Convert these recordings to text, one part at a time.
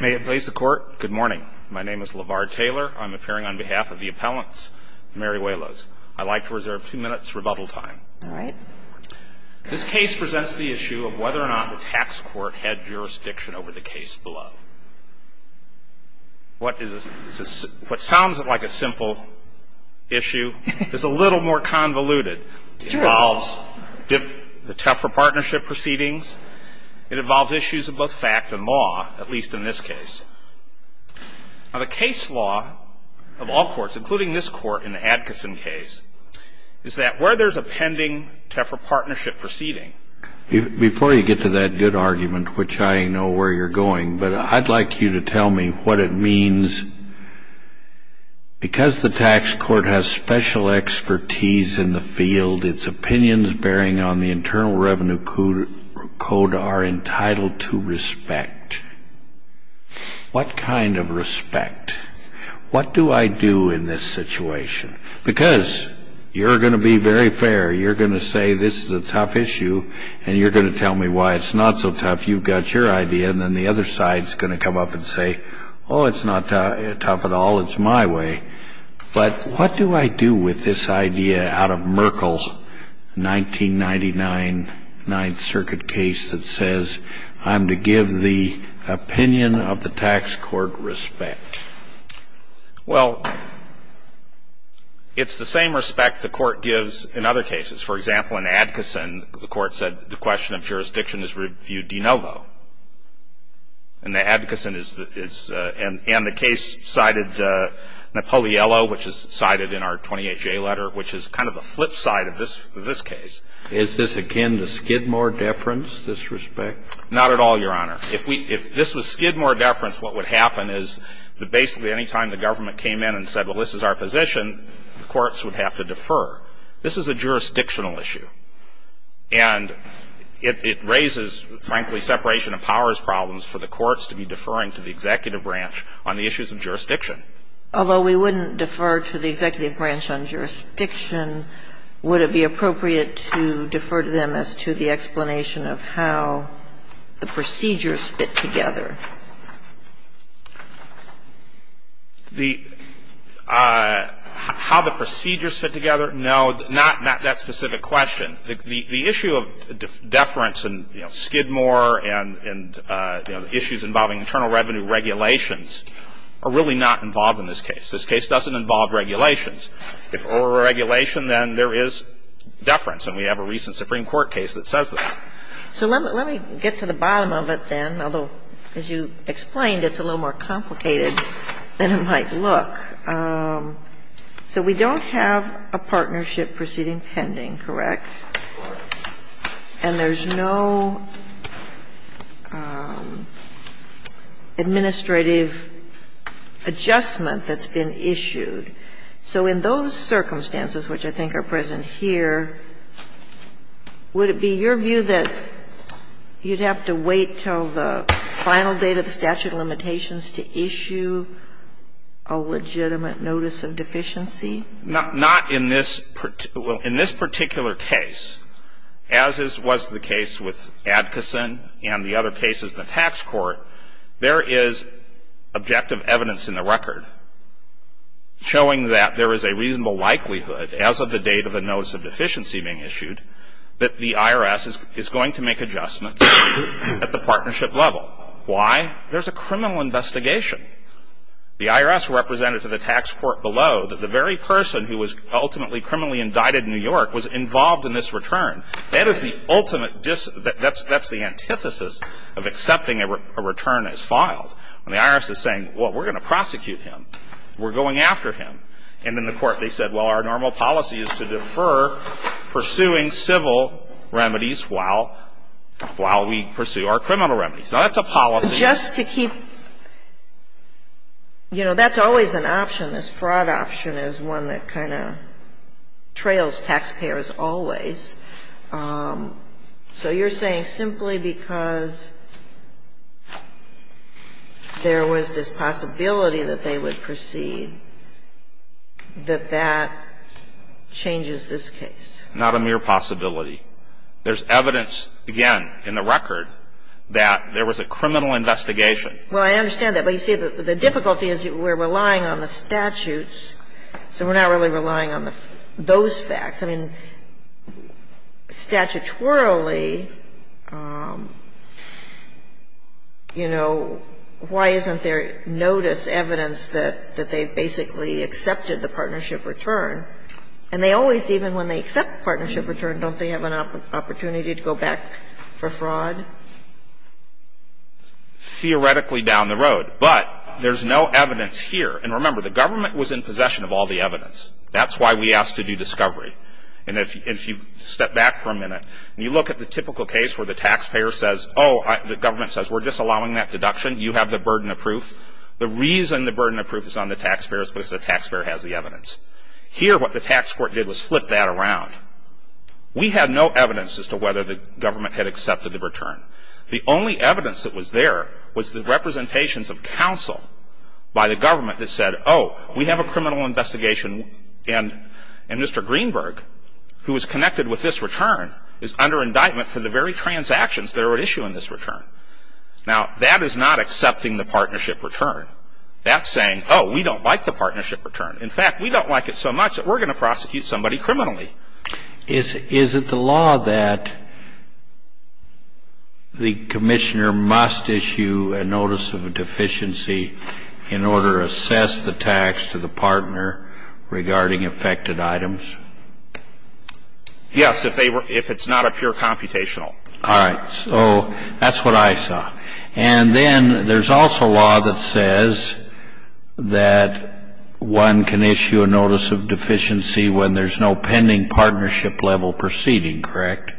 May it please the court, good morning. My name is LeVar Taylor. I'm appearing on behalf of the appellants, Meruelos. I'd like to reserve two minutes rebuttal time. This case presents the issue of whether or not the tax court had jurisdiction over the case below. What sounds like a simple issue is a little more convoluted. It involves the Tefra partnership proceedings. It involves issues of both fact and law, at least in this case. Now, the case law of all courts, including this court in the Atkinson case, is that where there's a pending Tefra partnership proceeding Before you get to that good argument, which I know where you're going, but I'd like you to tell me what it means. Because the tax court has special expertise in the field, its opinions bearing on the Internal Revenue Code are entitled to respect. What kind of respect? What do I do in this situation? Because you're going to be very fair. You're going to say this is a tough issue, and you're going to tell me why it's not so tough. You've got your idea, and then the other side's going to come up and say, oh, it's not tough at all. It's my way. But what do I do with this idea out of Merkel's 1999 Ninth Circuit case that says I'm to give the opinion of the tax court respect? Well, it's the same respect the court gives in other cases. For example, in Atkinson, the court said the question of jurisdiction is reviewed de novo. And the case cited Napoliello, which is cited in our 20HA letter, which is kind of the flip side of this case. Is this akin to Skidmore deference, this respect? Not at all, Your Honor. If this was Skidmore deference, what would happen is basically any time the government came in and said, well, this is our position, the courts would have to defer. This is a jurisdictional issue. And it raises, frankly, separation of powers problems for the courts to be deferring to the executive branch on the issues of jurisdiction. Although we wouldn't defer to the executive branch on jurisdiction, would it be appropriate to defer to them as to the explanation of how the procedures fit together? The --"how the procedures fit together"? No, not that specific question. The issue of deference in, you know, Skidmore and, you know, the issues involving internal revenue regulations are really not involved in this case. This case doesn't involve regulations. If it were a regulation, then there is deference, and we have a recent Supreme Court case that says that. So let me get to the bottom of it then, although, as you explained, it's a little more complicated than it might look. So we don't have a partnership proceeding pending, correct? And there's no administrative adjustment that's been issued. So in those circumstances, which I think are present here, would it be your view that you'd have to wait until the final date of the statute of limitations to issue a legitimate notice of deficiency? Not in this particular case. As was the case with Adkisson and the other cases in the tax court, there is objective evidence in the record showing that there is a reasonable likelihood, as of the date of the notice of deficiency being issued, that the IRS is going to make adjustments at the partnership level. Why? There's a criminal investigation. The IRS represented to the tax court below that the very person who was ultimately criminally indicted in New York was involved in this return. That is the ultimate, that's the antithesis of accepting a return as filed. When the IRS is saying, well, we're going to prosecute him. We're going after him. And in the court they said, well, our normal policy is to defer pursuing civil remedies while we pursue our criminal remedies. Now, that's a policy. Just to keep, you know, that's always an option. This fraud option is one that kind of trails taxpayers always. So you're saying simply because there was this possibility that they would proceed that that changes this case? Not a mere possibility. There's evidence, again, in the record that there was a criminal investigation. Well, I understand that. But you see, the difficulty is we're relying on the statutes, so we're not really relying on those facts. I mean, statutorily, you know, why isn't there notice, evidence that they've basically accepted the partnership return? And they always, even when they accept the partnership return, don't they have an opportunity to go back for fraud? Theoretically down the road. But there's no evidence here. And remember, the government was in possession of all the evidence. That's why we asked to do discovery. And if you step back for a minute and you look at the typical case where the taxpayer says, oh, the government says, we're disallowing that deduction. You have the burden of proof. The reason the burden of proof is on the taxpayer is because the taxpayer has the evidence. Here, what the tax court did was flip that around. We had no evidence as to whether the government had accepted the return. The only evidence that was there was the representations of counsel by the government that said, oh, we have a criminal investigation. And Mr. Greenberg, who is connected with this return, is under indictment for the very transactions that are at issue in this return. Now, that is not accepting the partnership return. That's saying, oh, we don't like the partnership return. In fact, we don't like it so much that we're going to prosecute somebody criminally. Is it the law that the commissioner must issue a notice of deficiency in order to assess the tax to the partner regarding affected items? Yes, if they were ‑‑ if it's not a pure computational. All right. So that's what I saw. And then there's also law that says that one can issue a notice of deficiency when there's no pending partnership level proceeding, correct?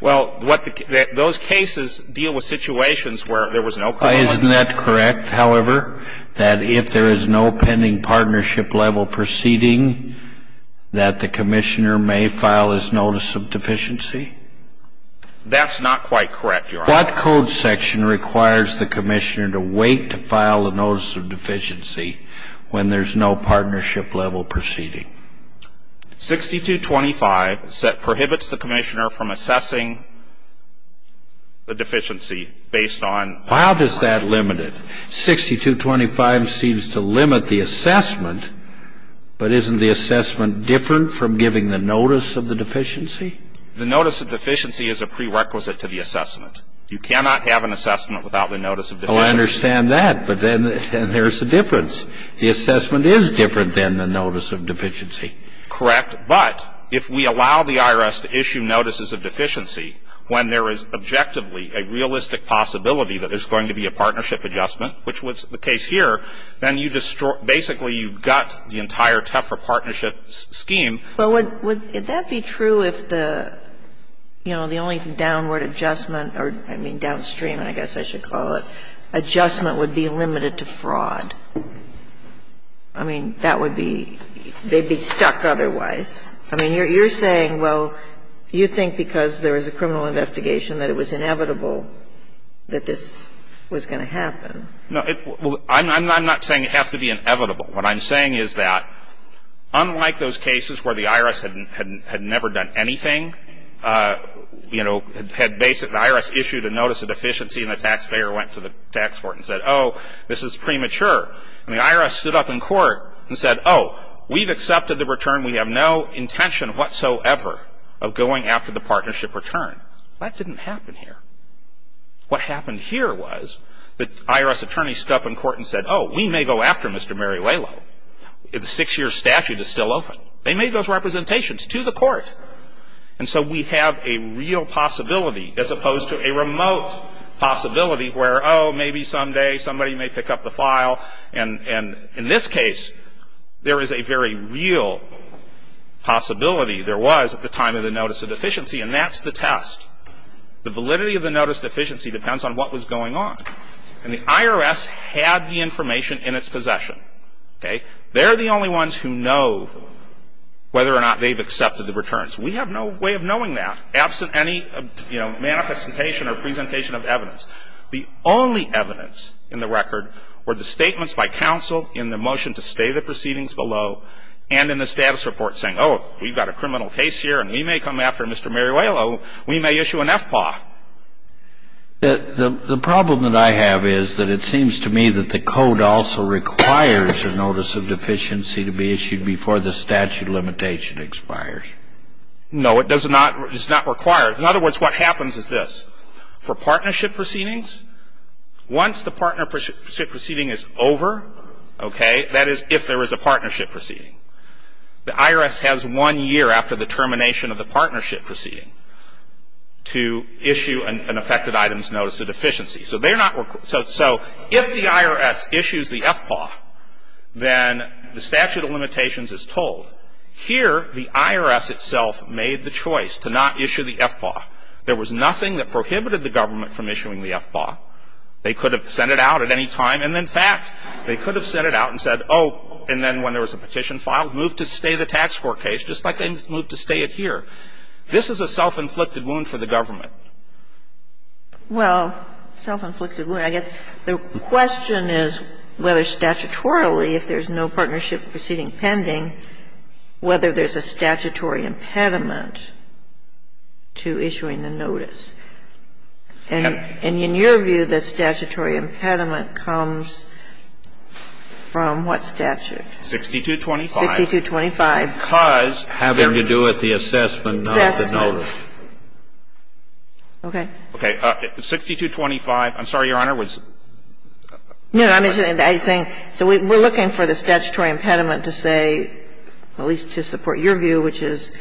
Well, what the ‑‑ those cases deal with situations where there was no criminal ‑‑ Isn't that correct, however? That if there is no pending partnership level proceeding, that the commissioner may file his notice of deficiency? That's not quite correct, Your Honor. What code section requires the commissioner to wait to file a notice of deficiency when there's no partnership level proceeding? 6225 prohibits the commissioner from assessing the deficiency based on ‑‑ How does that limit it? 6225 seems to limit the assessment, but isn't the assessment different from giving the notice of the deficiency? The notice of deficiency is a prerequisite to the assessment. You cannot have an assessment without the notice of deficiency. Oh, I understand that, but then there's a difference. The assessment is different than the notice of deficiency. Correct, but if we allow the IRS to issue notices of deficiency when there is objectively a realistic possibility that there's going to be a partnership adjustment, which was the case here, then you destroy ‑‑ basically, you gut the entire TEFR partnership scheme. Well, would that be true if the, you know, the only downward adjustment or, I mean, downstream, I guess I should call it, adjustment would be limited to fraud? I mean, that would be ‑‑ they'd be stuck otherwise. I mean, you're saying, well, you think because there is a criminal investigation that it was inevitable that this was going to happen. No. I'm not saying it has to be inevitable. What I'm saying is that unlike those cases where the IRS had never done anything, you know, had basically ‑‑ the IRS issued a notice of deficiency and the taxpayer went to the tax court and said, oh, this is premature, and the IRS stood up in court and said, oh, we've accepted the return. We have no intention whatsoever of going after the partnership return. That didn't happen here. What happened here was the IRS attorney stood up in court and said, oh, we may go after Mr. Mariuelo if the six‑year statute is still open. They made those representations to the court. And so we have a real possibility as opposed to a remote possibility where, oh, maybe someday somebody may pick up the file. And in this case, there is a very real possibility. There was at the time of the notice of deficiency, and that's the test. The validity of the notice of deficiency depends on what was going on. And the IRS had the information in its possession. Okay? They're the only ones who know whether or not they've accepted the returns. We have no way of knowing that absent any, you know, manifestation or presentation of evidence. The only evidence in the record were the statements by counsel in the motion to stay the proceedings below and in the status report saying, oh, we've got a criminal case here, and we may come after Mr. Mariuelo. We may issue an FPAW. The problem that I have is that it seems to me that the code also requires a notice of deficiency to be issued before the statute limitation expires. No, it does not. It's not required. In other words, what happens is this. For partnership proceedings, once the partnership proceeding is over, okay, that is if there is a partnership proceeding. The IRS has one year after the termination of the partnership proceeding to issue an effective items notice of deficiency. So they're not required. So if the IRS issues the FPAW, then the statute of limitations is told. Here, the IRS itself made the choice to not issue the FPAW. There was nothing that prohibited the government from issuing the FPAW. They could have sent it out at any time, and in fact, they could have sent it out and said, oh, and then when there was a petition filed, move to stay the tax court case, just like they moved to stay it here. This is a self-inflicted wound for the government. Well, self-inflicted wound. I guess the question is whether statutorily, if there's no partnership proceeding pending, whether there's a statutory impediment to issuing the notice. And in your view, the statutory impediment comes from what statute? 6225. 6225. Because having to do with the assessment, not the notice. Assessment. Okay. Okay. 6225. I'm sorry, Your Honor. I was wondering whether I was ‒ No. I was saying so we ‒ we're looking for the statutory impediment to say, at least to support your view, which is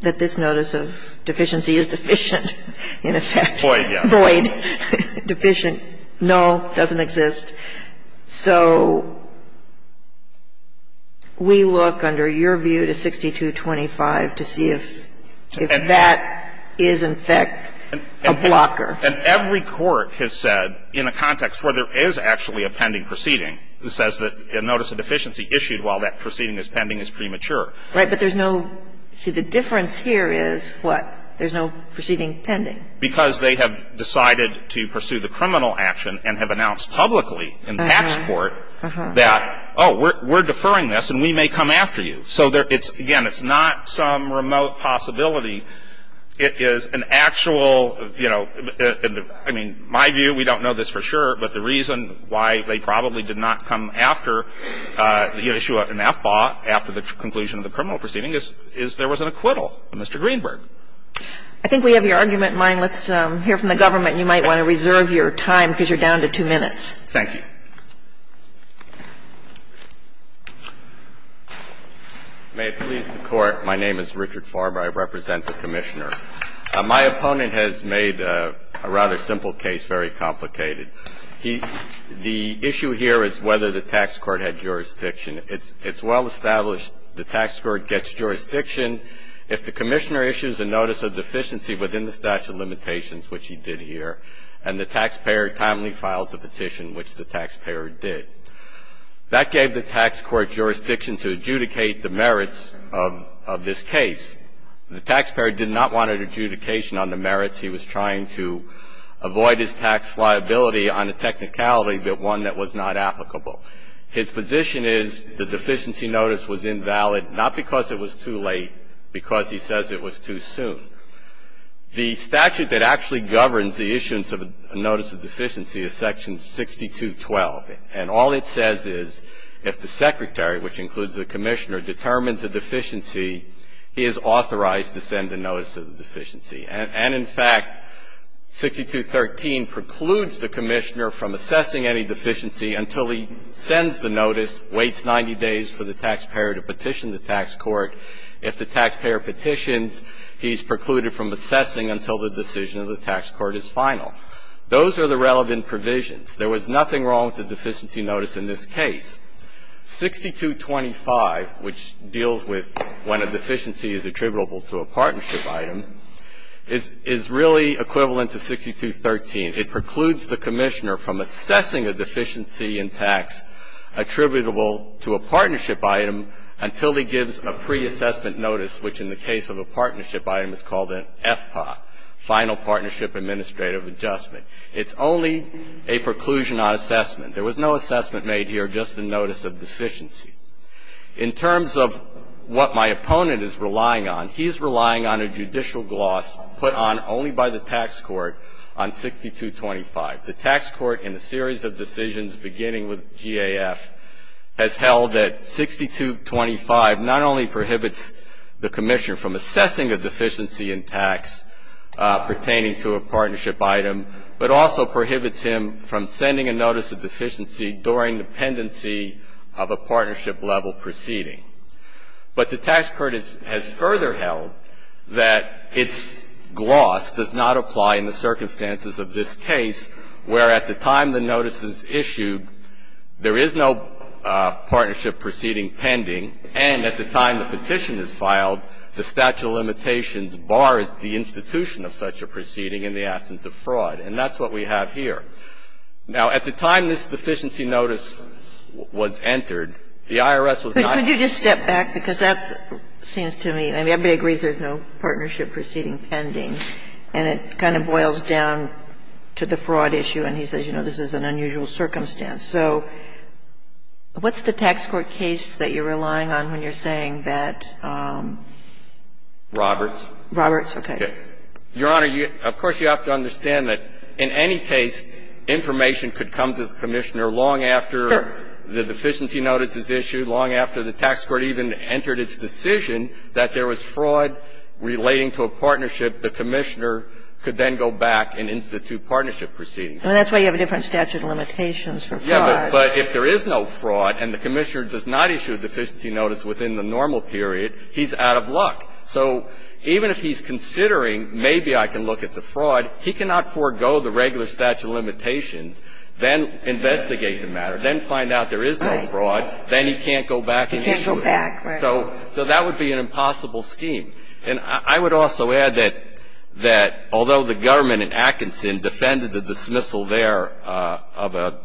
that this notice of deficiency is deficient in effect. Void yes. Void. Deficient, null, doesn't exist. So we look, under your view, to 6225 to see if that is, in effect, a blocker. And every court has said, in a context where there is actually a pending proceeding, that says that a notice of deficiency issued while that proceeding is pending is premature. Right. But there's no ‒ see, the difference here is what? There's no proceeding pending. Because they have decided to pursue the criminal action and have announced publicly in the tax court that, oh, we're deferring this, and we may come after you. So there ‒ it's ‒ again, it's not some remote possibility. It is an actual, you know ‒ I mean, my view, we don't know this for sure, but the reason why they probably did not come after the issue of an FBAW after the conclusion of the criminal proceeding is there was an acquittal of Mr. Greenberg. I think we have your argument in mind. Let's hear from the government. You might want to reserve your time because you're down to two minutes. Thank you. May it please the Court, my name is Richard Farber. I represent the Commissioner. My opponent has made a rather simple case very complicated. He ‒ the issue here is whether the tax court had jurisdiction. It's well established the tax court gets jurisdiction if the Commissioner issues a notice of deficiency within the statute of limitations, which he did here, and the taxpayer timely files a petition, which the taxpayer did. That gave the tax court jurisdiction to adjudicate the merits of this case. The taxpayer did not want an adjudication on the merits. He was trying to avoid his tax liability on a technicality, but one that was not applicable. His position is the deficiency notice was invalid, not because it was too late, because he says it was too soon. The statute that actually governs the issuance of a notice of deficiency is Section 6212, and all it says is if the Secretary, which includes the Commissioner, determines a deficiency, he is authorized to send a notice of deficiency. And in fact, 6213 precludes the Commissioner from assessing any deficiency until he sends the notice, waits 90 days for the taxpayer to petition the tax court. If the taxpayer petitions, he is precluded from assessing until the decision of the tax court is final. Those are the relevant provisions. There was nothing wrong with the deficiency notice in this case. 6225, which deals with when a deficiency is attributable to a partnership item, is really equivalent to 6213. It precludes the Commissioner from assessing a deficiency in tax attributable to a partnership item until he gives a pre-assessment notice, which in the case of a partnership item is called an FPA, Final Partnership Administrative Adjustment. It's only a preclusion on assessment. There was no assessment made here, just a notice of deficiency. In terms of what my opponent is relying on, he's relying on a judicial gloss put on only by the tax court on 6225. The tax court, in a series of decisions beginning with GAF, has held that 6225 not only prohibits the Commissioner from assessing a deficiency in tax pertaining to a partnership item, but also prohibits him from sending a notice of deficiency during the pendency of a partnership-level proceeding. But the tax court has further held that its gloss does not apply in the circumstances of this case, where at the time the notice is issued, there is no partnership proceeding pending, and at the time the petition is filed, the statute of limitations bars the institution of such a proceeding in the absence of fraud. And that's what we have here. Now, at the time this deficiency notice was entered, the IRS was not going to But could you just step back, because that seems to me, I mean, everybody agrees there's no partnership proceeding pending, and it kind of boils down to the fraud issue. And he says, you know, this is an unusual circumstance. So what's the tax court case that you're relying on when you're saying that Roberts. Roberts, okay. Your Honor, of course, you have to understand that in any case, information could come to the Commissioner long after the deficiency notice is issued, long after the tax court even entered its decision that there was fraud relating to a partnership. The Commissioner could then go back and institute partnership proceedings. And that's why you have a different statute of limitations for fraud. Yeah, but if there is no fraud and the Commissioner does not issue a deficiency notice within the normal period, he's out of luck. So even if he's considering, maybe I can look at the fraud, he cannot forego the regular statute of limitations, then investigate the matter, then find out there is no fraud, then he can't go back and issue it. He can't go back, right. So that would be an impossible scheme. And I would also add that although the government in Atkinson defended the dismissal there of a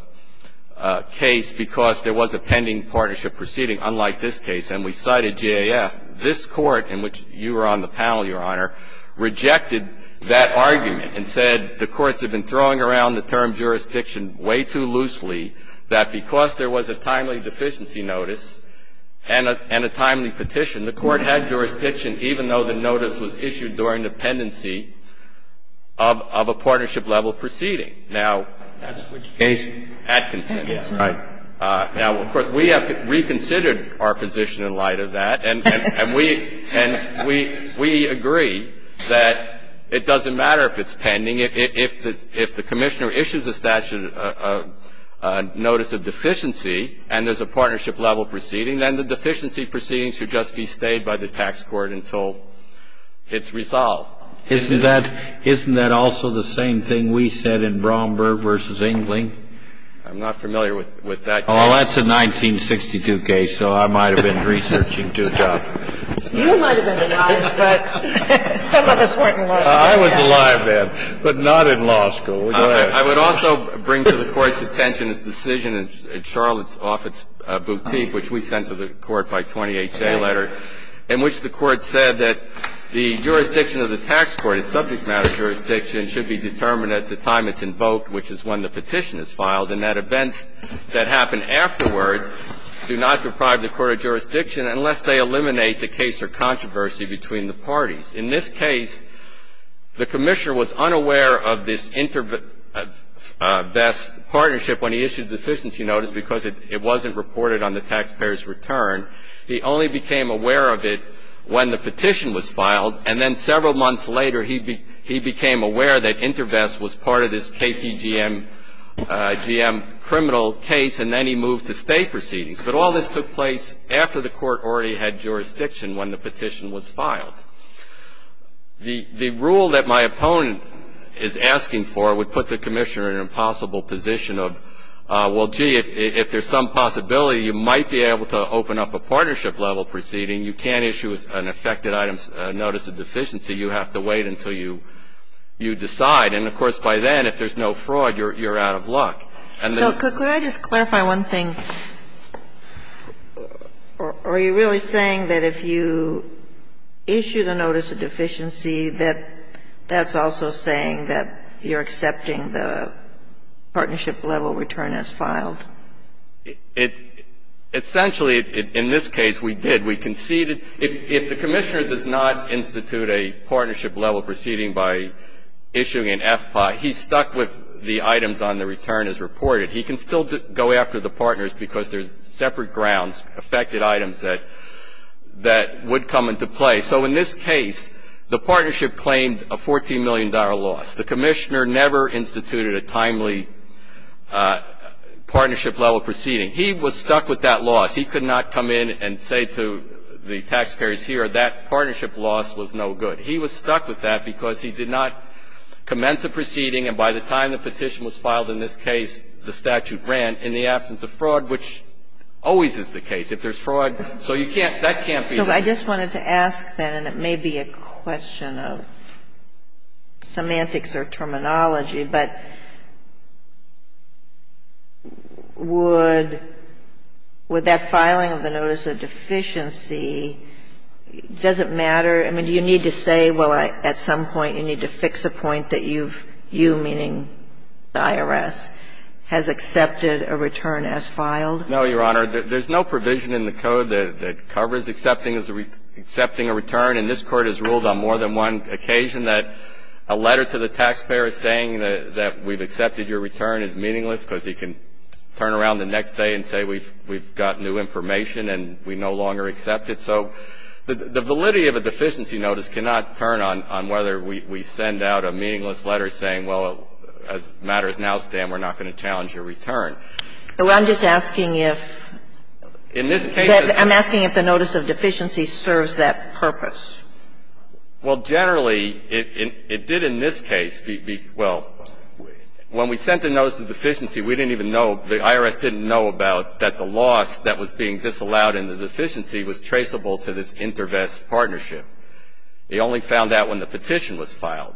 case because there was a pending partnership proceeding, unlike this case, this Court, in which you were on the panel, Your Honor, rejected that argument and said the courts have been throwing around the term jurisdiction way too loosely that because there was a timely deficiency notice and a timely petition, the Court had jurisdiction even though the notice was issued during the pendency of a partnership level proceeding. Now, that's what you gave Atkinson, right. Now, of course, we have reconsidered our position in light of that. And we agree that it doesn't matter if it's pending. If the Commissioner issues a statute of notice of deficiency and there's a partnership level proceeding, then the deficiency proceeding should just be stayed by the tax court until it's resolved. Isn't that also the same thing we said in Bromberg versus Engeling? I'm not familiar with that case. Well, that's a 1962 case, so I might have been researching too tough. You might have been alive, but some of us weren't in law school. I was alive then, but not in law school. Go ahead. I would also bring to the Court's attention the decision in Charlotte's office boutique, which we sent to the Court by 20HA letter, in which the Court said that the jurisdiction of the tax court, its subject matter jurisdiction, should be determined at the time it's invoked, which is when the petition is filed, and that events that happen afterwards do not deprive the court of jurisdiction unless they eliminate the case or controversy between the parties. In this case, the Commissioner was unaware of this intervest partnership when he issued a deficiency notice because it wasn't reported on the taxpayer's return. He only became aware of it when the petition was filed, and then several months later, he became aware that intervest was part of this KPGM criminal case, and then he moved to state proceedings. But all this took place after the Court already had jurisdiction when the petition was filed. The rule that my opponent is asking for would put the Commissioner in an impossible position of, well, gee, if there's some possibility, you might be able to open up a partnership-level proceeding. You can't issue an affected items notice of deficiency. You have to wait until you decide. And, of course, by then, if there's no fraud, you're out of luck. And the ---- Kagan, could I just clarify one thing? Are you really saying that if you issue the notice of deficiency, that that's also saying that you're accepting the partnership-level return as filed? It ---- essentially, in this case, we did. We conceded ---- if the Commissioner does not institute a partnership-level proceeding by issuing an FPI, he's stuck with the items on the return as reported. He can still go after the partners because there's separate grounds, affected items that would come into play. So in this case, the partnership claimed a $14 million loss. The Commissioner never instituted a timely partnership-level proceeding. He was stuck with that loss. He could not come in and say to the taxpayers here, that partnership loss was no good. He was stuck with that because he did not commence a proceeding, and by the time the petition was filed in this case, the statute ran, in the absence of fraud, which always is the case. If there's fraud, so you can't ---- that can't be the case. So I just wanted to ask, then, and it may be a question of semantics or terminology, but would that filing of the notice of deficiency, does it matter? I mean, do you need to say, well, at some point, you need to fix a point that you've ---- you, meaning the IRS, has accepted a return as filed? No, Your Honor. There's no provision in the code that covers accepting a return, and this Court has ruled on more than one occasion that a letter to the taxpayer saying that we've accepted your return is meaningless because he can turn around the next day and say we've got new information and we no longer accept it. So the validity of a deficiency notice cannot turn on whether we send out a meaningless letter saying, well, as matters now stand, we're not going to challenge your return. So I'm just asking if ---- In this case ---- I'm asking if the notice of deficiency serves that purpose. Well, generally, it did in this case be ---- well, when we sent the notice of deficiency, we didn't even know, the IRS didn't know about that the loss that was being disallowed in the deficiency was traceable to this inter-vest partnership. They only found out when the petition was filed.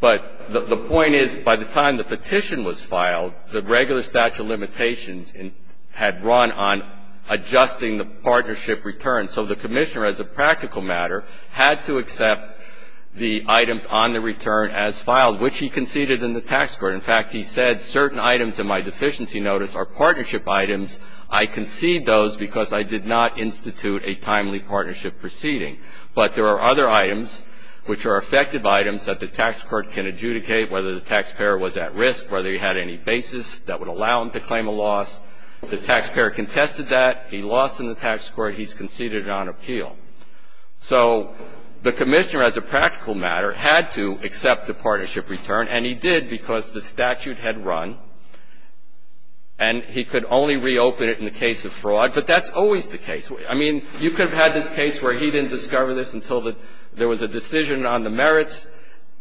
But the point is, by the time the petition was filed, the regular statute of limitations had run on adjusting the partnership return. So the commissioner, as a practical matter, had to accept the items on the return as filed which he conceded in the tax court. In fact, he said certain items in my deficiency notice are partnership items. I concede those because I did not institute a timely partnership proceeding. But there are other items which are effective items that the tax court can adjudicate whether the taxpayer was at risk, whether he had any basis that would allow him to claim a loss. The taxpayer contested that. He lost in the tax court. He's conceded it on appeal. So the commissioner, as a practical matter, had to accept the partnership return, and he did because the statute had run and he could only reopen it in the case of fraud. But that's always the case. I mean, you could have had this case where he didn't discover this until there was a decision on the merits,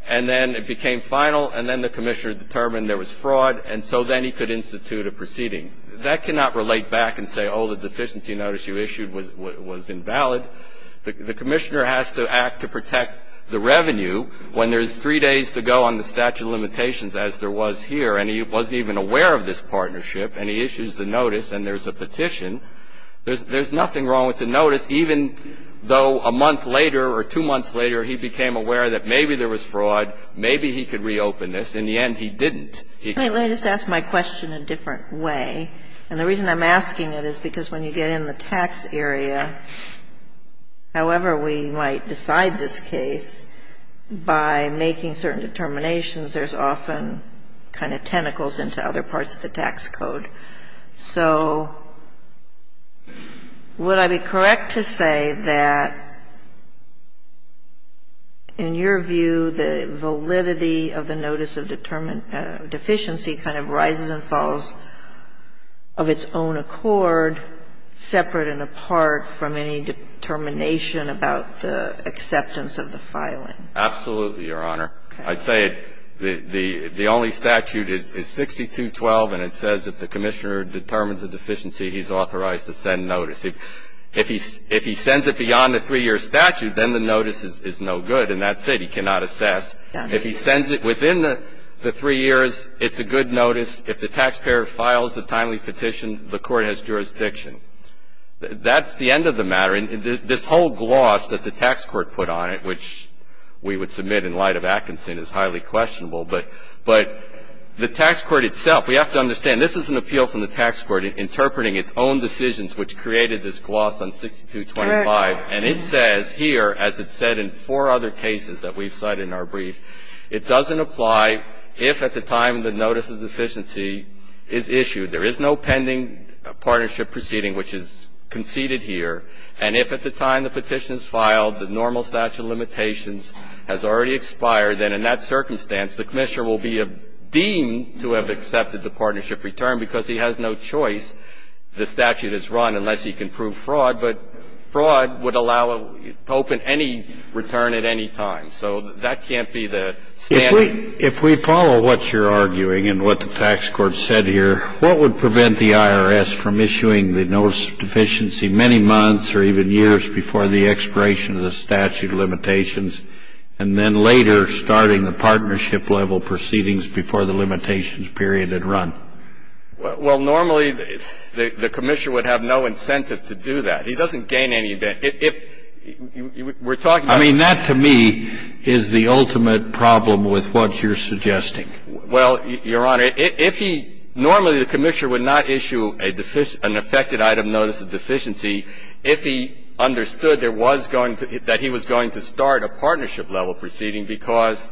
and then it became final, and then the commissioner determined there was fraud, and so then he could institute a proceeding. That cannot relate back and say, oh, the deficiency notice you issued was invalid. The commissioner has to act to protect the revenue when there's three days to go on the statute of limitations as there was here, and he wasn't even aware of this partnership, and he issues the notice and there's a petition. There's nothing wrong with the notice, even though a month later or two months later he became aware that maybe there was fraud, maybe he could reopen this. In the end, he didn't. Kagan. Ginsburg. Let me just ask my question a different way, and the reason I'm asking it is because when you get in the tax area, however we might decide this case, by making certain determinations, there's often kind of tentacles into other parts of the tax code. So would I be correct to say that in your view the validity of the notice of deferral of a deficiency kind of rises and falls of its own accord, separate and apart from any determination about the acceptance of the filing? Absolutely, Your Honor. I'd say the only statute is 6212, and it says if the commissioner determines a deficiency, he's authorized to send notice. If he sends it beyond the three-year statute, then the notice is no good, and that's it, he cannot assess. If he sends it within the three years, it's a good notice. If the taxpayer files a timely petition, the court has jurisdiction. That's the end of the matter. This whole gloss that the tax court put on it, which we would submit in light of Atkinson, is highly questionable. But the tax court itself, we have to understand, this is an appeal from the tax court interpreting its own decisions which created this gloss on 6225, and it says here, as it said in four other cases that we've cited in our brief, it doesn't apply if at the time the notice of deficiency is issued. There is no pending partnership proceeding which is conceded here, and if at the time the petition is filed, the normal statute of limitations has already expired, then in that circumstance, the commissioner will be deemed to have accepted the partnership return because he has no choice, the statute is run unless he can prove fraud. But fraud would allow to open any return at any time. So that can't be the standard. If we follow what you're arguing and what the tax court said here, what would prevent the IRS from issuing the notice of deficiency many months or even years before the expiration of the statute of limitations, and then later starting the partnership level proceedings before the limitations period had run? Well, normally, the commissioner would have no incentive to do that. He doesn't gain any incentive. If we're talking about the tax court. I mean, that to me is the ultimate problem with what you're suggesting. Well, Your Honor, if he ñ normally, the commissioner would not issue a deficient ñ an affected item notice of deficiency if he understood there was going to ñ that he was going to start a partnership level proceeding, because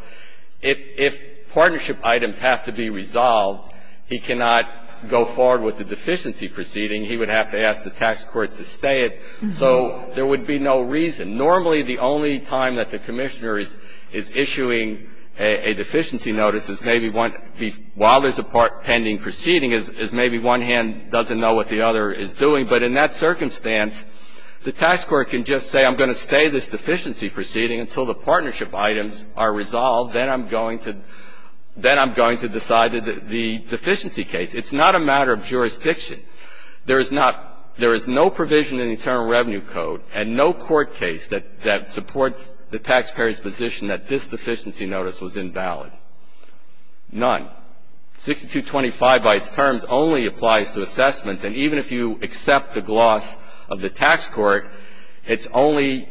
if partnership items have to be resolved, he cannot go forward with the deficiency proceeding. He would have to ask the tax court to stay it. So there would be no reason. Normally, the only time that the commissioner is issuing a deficiency notice is maybe one ñ while there's a pending proceeding is maybe one hand doesn't know what the other is doing. But in that circumstance, the tax court can just say, I'm going to stay this deficiency proceeding until the partnership items are resolved. Then I'm going to ñ then I'm going to decide the deficiency case. It's not a matter of jurisdiction. There is not ñ there is no provision in the Internal Revenue Code and no court case that supports the taxpayer's position that this deficiency notice was invalid. None. 6225 by its terms only applies to assessments. And even if you accept the gloss of the tax court, it only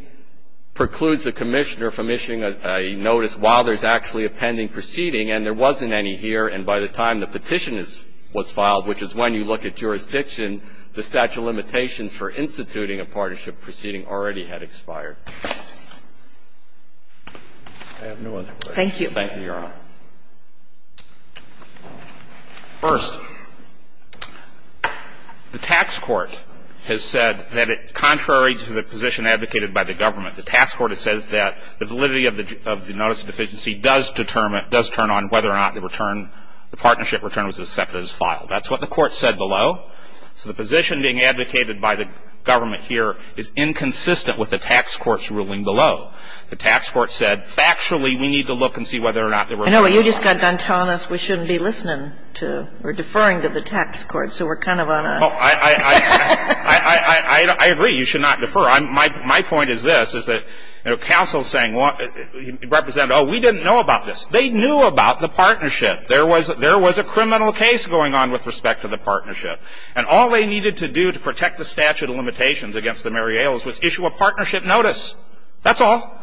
precludes the commissioner from issuing a notice while there's actually a pending proceeding, and there wasn't any here. And by the time the petition is ñ was filed, which is when you look at jurisdiction, the statute of limitations for instituting a partnership proceeding already had expired. I have no other questions. Thank you, Your Honor. First, the tax court has said that contrary to the position advocated by the government, the tax court says that the validity of the ñ of the notice of deficiency does determine whether or not the return ñ the partnership return was accepted as filed. That's what the court said below. So the position being advocated by the government here is inconsistent with the tax court's ruling below. The tax court said factually we need to look and see whether or not the ñ I know, but you just got done telling us we shouldn't be listening to ñ or deferring to the tax court, so we're kind of on a ñ Well, I ñ I ñ I agree you should not defer. My ñ my point is this, is that counsel is saying ñ represent, oh, we didn't know about this. They knew about the partnership. There was ñ there was a criminal case going on with respect to the partnership. And all they needed to do to protect the statute of limitations against the Mary Ailes was issue a partnership notice. That's all.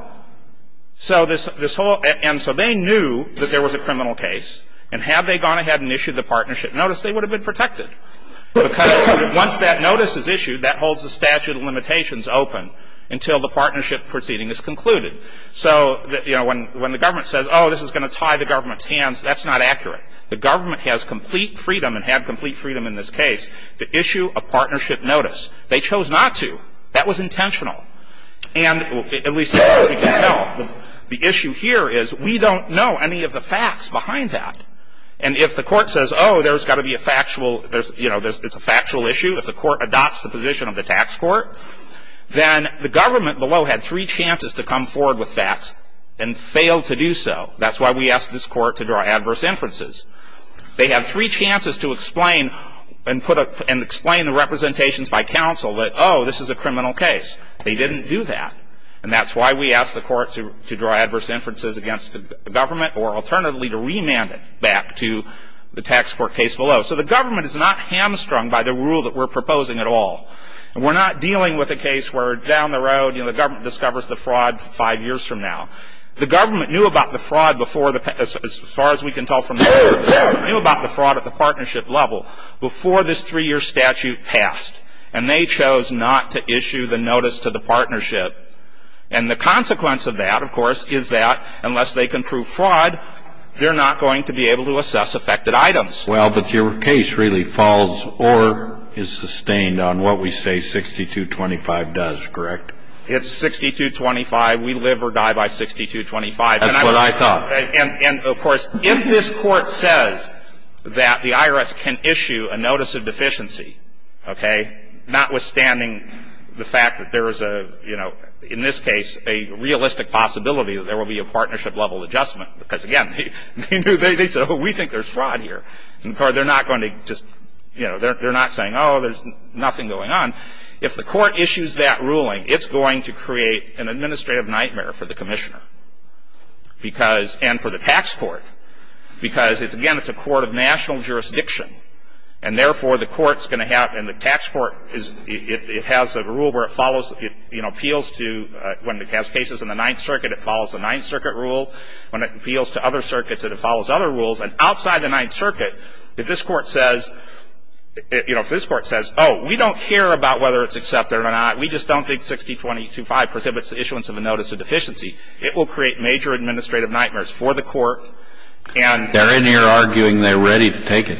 So this ñ this whole ñ and so they knew that there was a criminal case. And had they gone ahead and issued the partnership notice, they would have been protected. Because once that notice is issued, that holds the statute of limitations open until the partnership proceeding is concluded. So, you know, when ñ when the government says, oh, this is going to tie the government's hands, that's not accurate. The government has complete freedom and had complete freedom in this case to issue a partnership notice. They chose not to. That was intentional. And at least as far as we can tell, the issue here is we don't know any of the facts behind that. And if the court says, oh, there's got to be a factual ñ there's ñ you know, it's a factual issue, if the court adopts the position of the tax court, then the government below had three chances to come forward with facts and failed to do so. That's why we asked this court to draw adverse inferences. They have three chances to explain and put a ñ and explain the representations by counsel that, oh, this is a criminal case. They didn't do that. And that's why we asked the court to ñ to draw adverse inferences against the government or alternatively to remand it back to the tax court case below. So the government is not hamstrung by the rule that we're proposing at all. And we're not dealing with a case where down the road, you know, the government discovers the fraud five years from now. The government knew about the fraud before the ñ as far as we can tell from the statute ñ knew about the fraud at the partnership level before this three-year statute passed. And they chose not to issue the notice to the partnership. And the consequence of that, of course, is that unless they can prove fraud, they're not going to be able to assess affected items. Well, but your case really falls or is sustained on what we say 6225 does, correct? It's 6225. We live or die by 6225. That's what I thought. And, of course, if this Court says that the IRS can issue a notice of deficiency, okay, notwithstanding the fact that there is a, you know, in this case a realistic possibility that there will be a partnership-level adjustment, because, again, they knew ñ they said, oh, we think there's fraud here. And, of course, they're not going to just ñ you know, they're not saying, oh, there's nothing going on. If the Court issues that ruling, it's going to create an administrative nightmare for the Commissioner because ñ and for the tax court because it's ñ again, it's a court of national jurisdiction. And, therefore, the court's going to have ñ and the tax court is ñ it has a rule where it follows ñ it, you know, appeals to ñ when it has cases in the Ninth Circuit, it follows the Ninth Circuit rule. When it appeals to other circuits, it follows other rules. And outside the Ninth Circuit, if this Court says ñ you know, if this Court says, oh, we don't care about whether it's accepted or not, we just don't think 60225 prohibits the issuance of a notice of deficiency, it will create major administrative nightmares for the Court and ñ Kennedy. They're in here arguing they're ready to take it.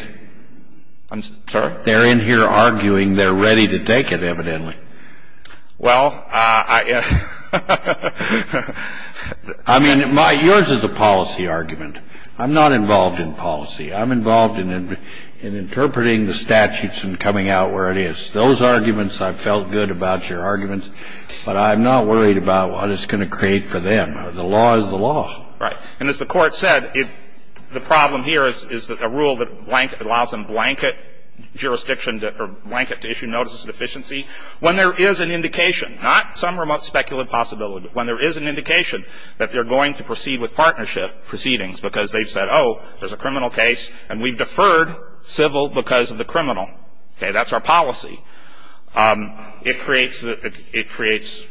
I'm sorry? They're in here arguing they're ready to take it, evidently. Well, I ñ I mean, my ñ yours is a policy argument. I'm not involved in policy. I'm involved in interpreting the statutes and coming out where it is. Those arguments, I felt good about your arguments, but I'm not worried about what it's going to create for them. The law is the law. Right. And as the Court said, it ñ the problem here is that a rule that allows them blanket jurisdiction to ñ or blanket to issue notices of deficiency, when there is an indication ñ not some remote speculative possibility ñ when there is an indication that they're going to proceed with partnership proceedings because they've said, oh, there's a criminal case, and we've deferred civil because of the criminal. Okay? That's our policy. It creates ñ it creates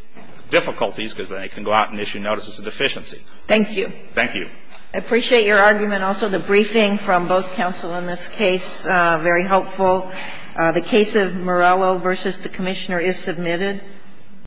difficulties because they can go out and issue notices of deficiency. Thank you. Thank you. I appreciate your argument. Also, the briefing from both counsel in this case, very helpful. The case of Morello v. the Commissioner is submitted.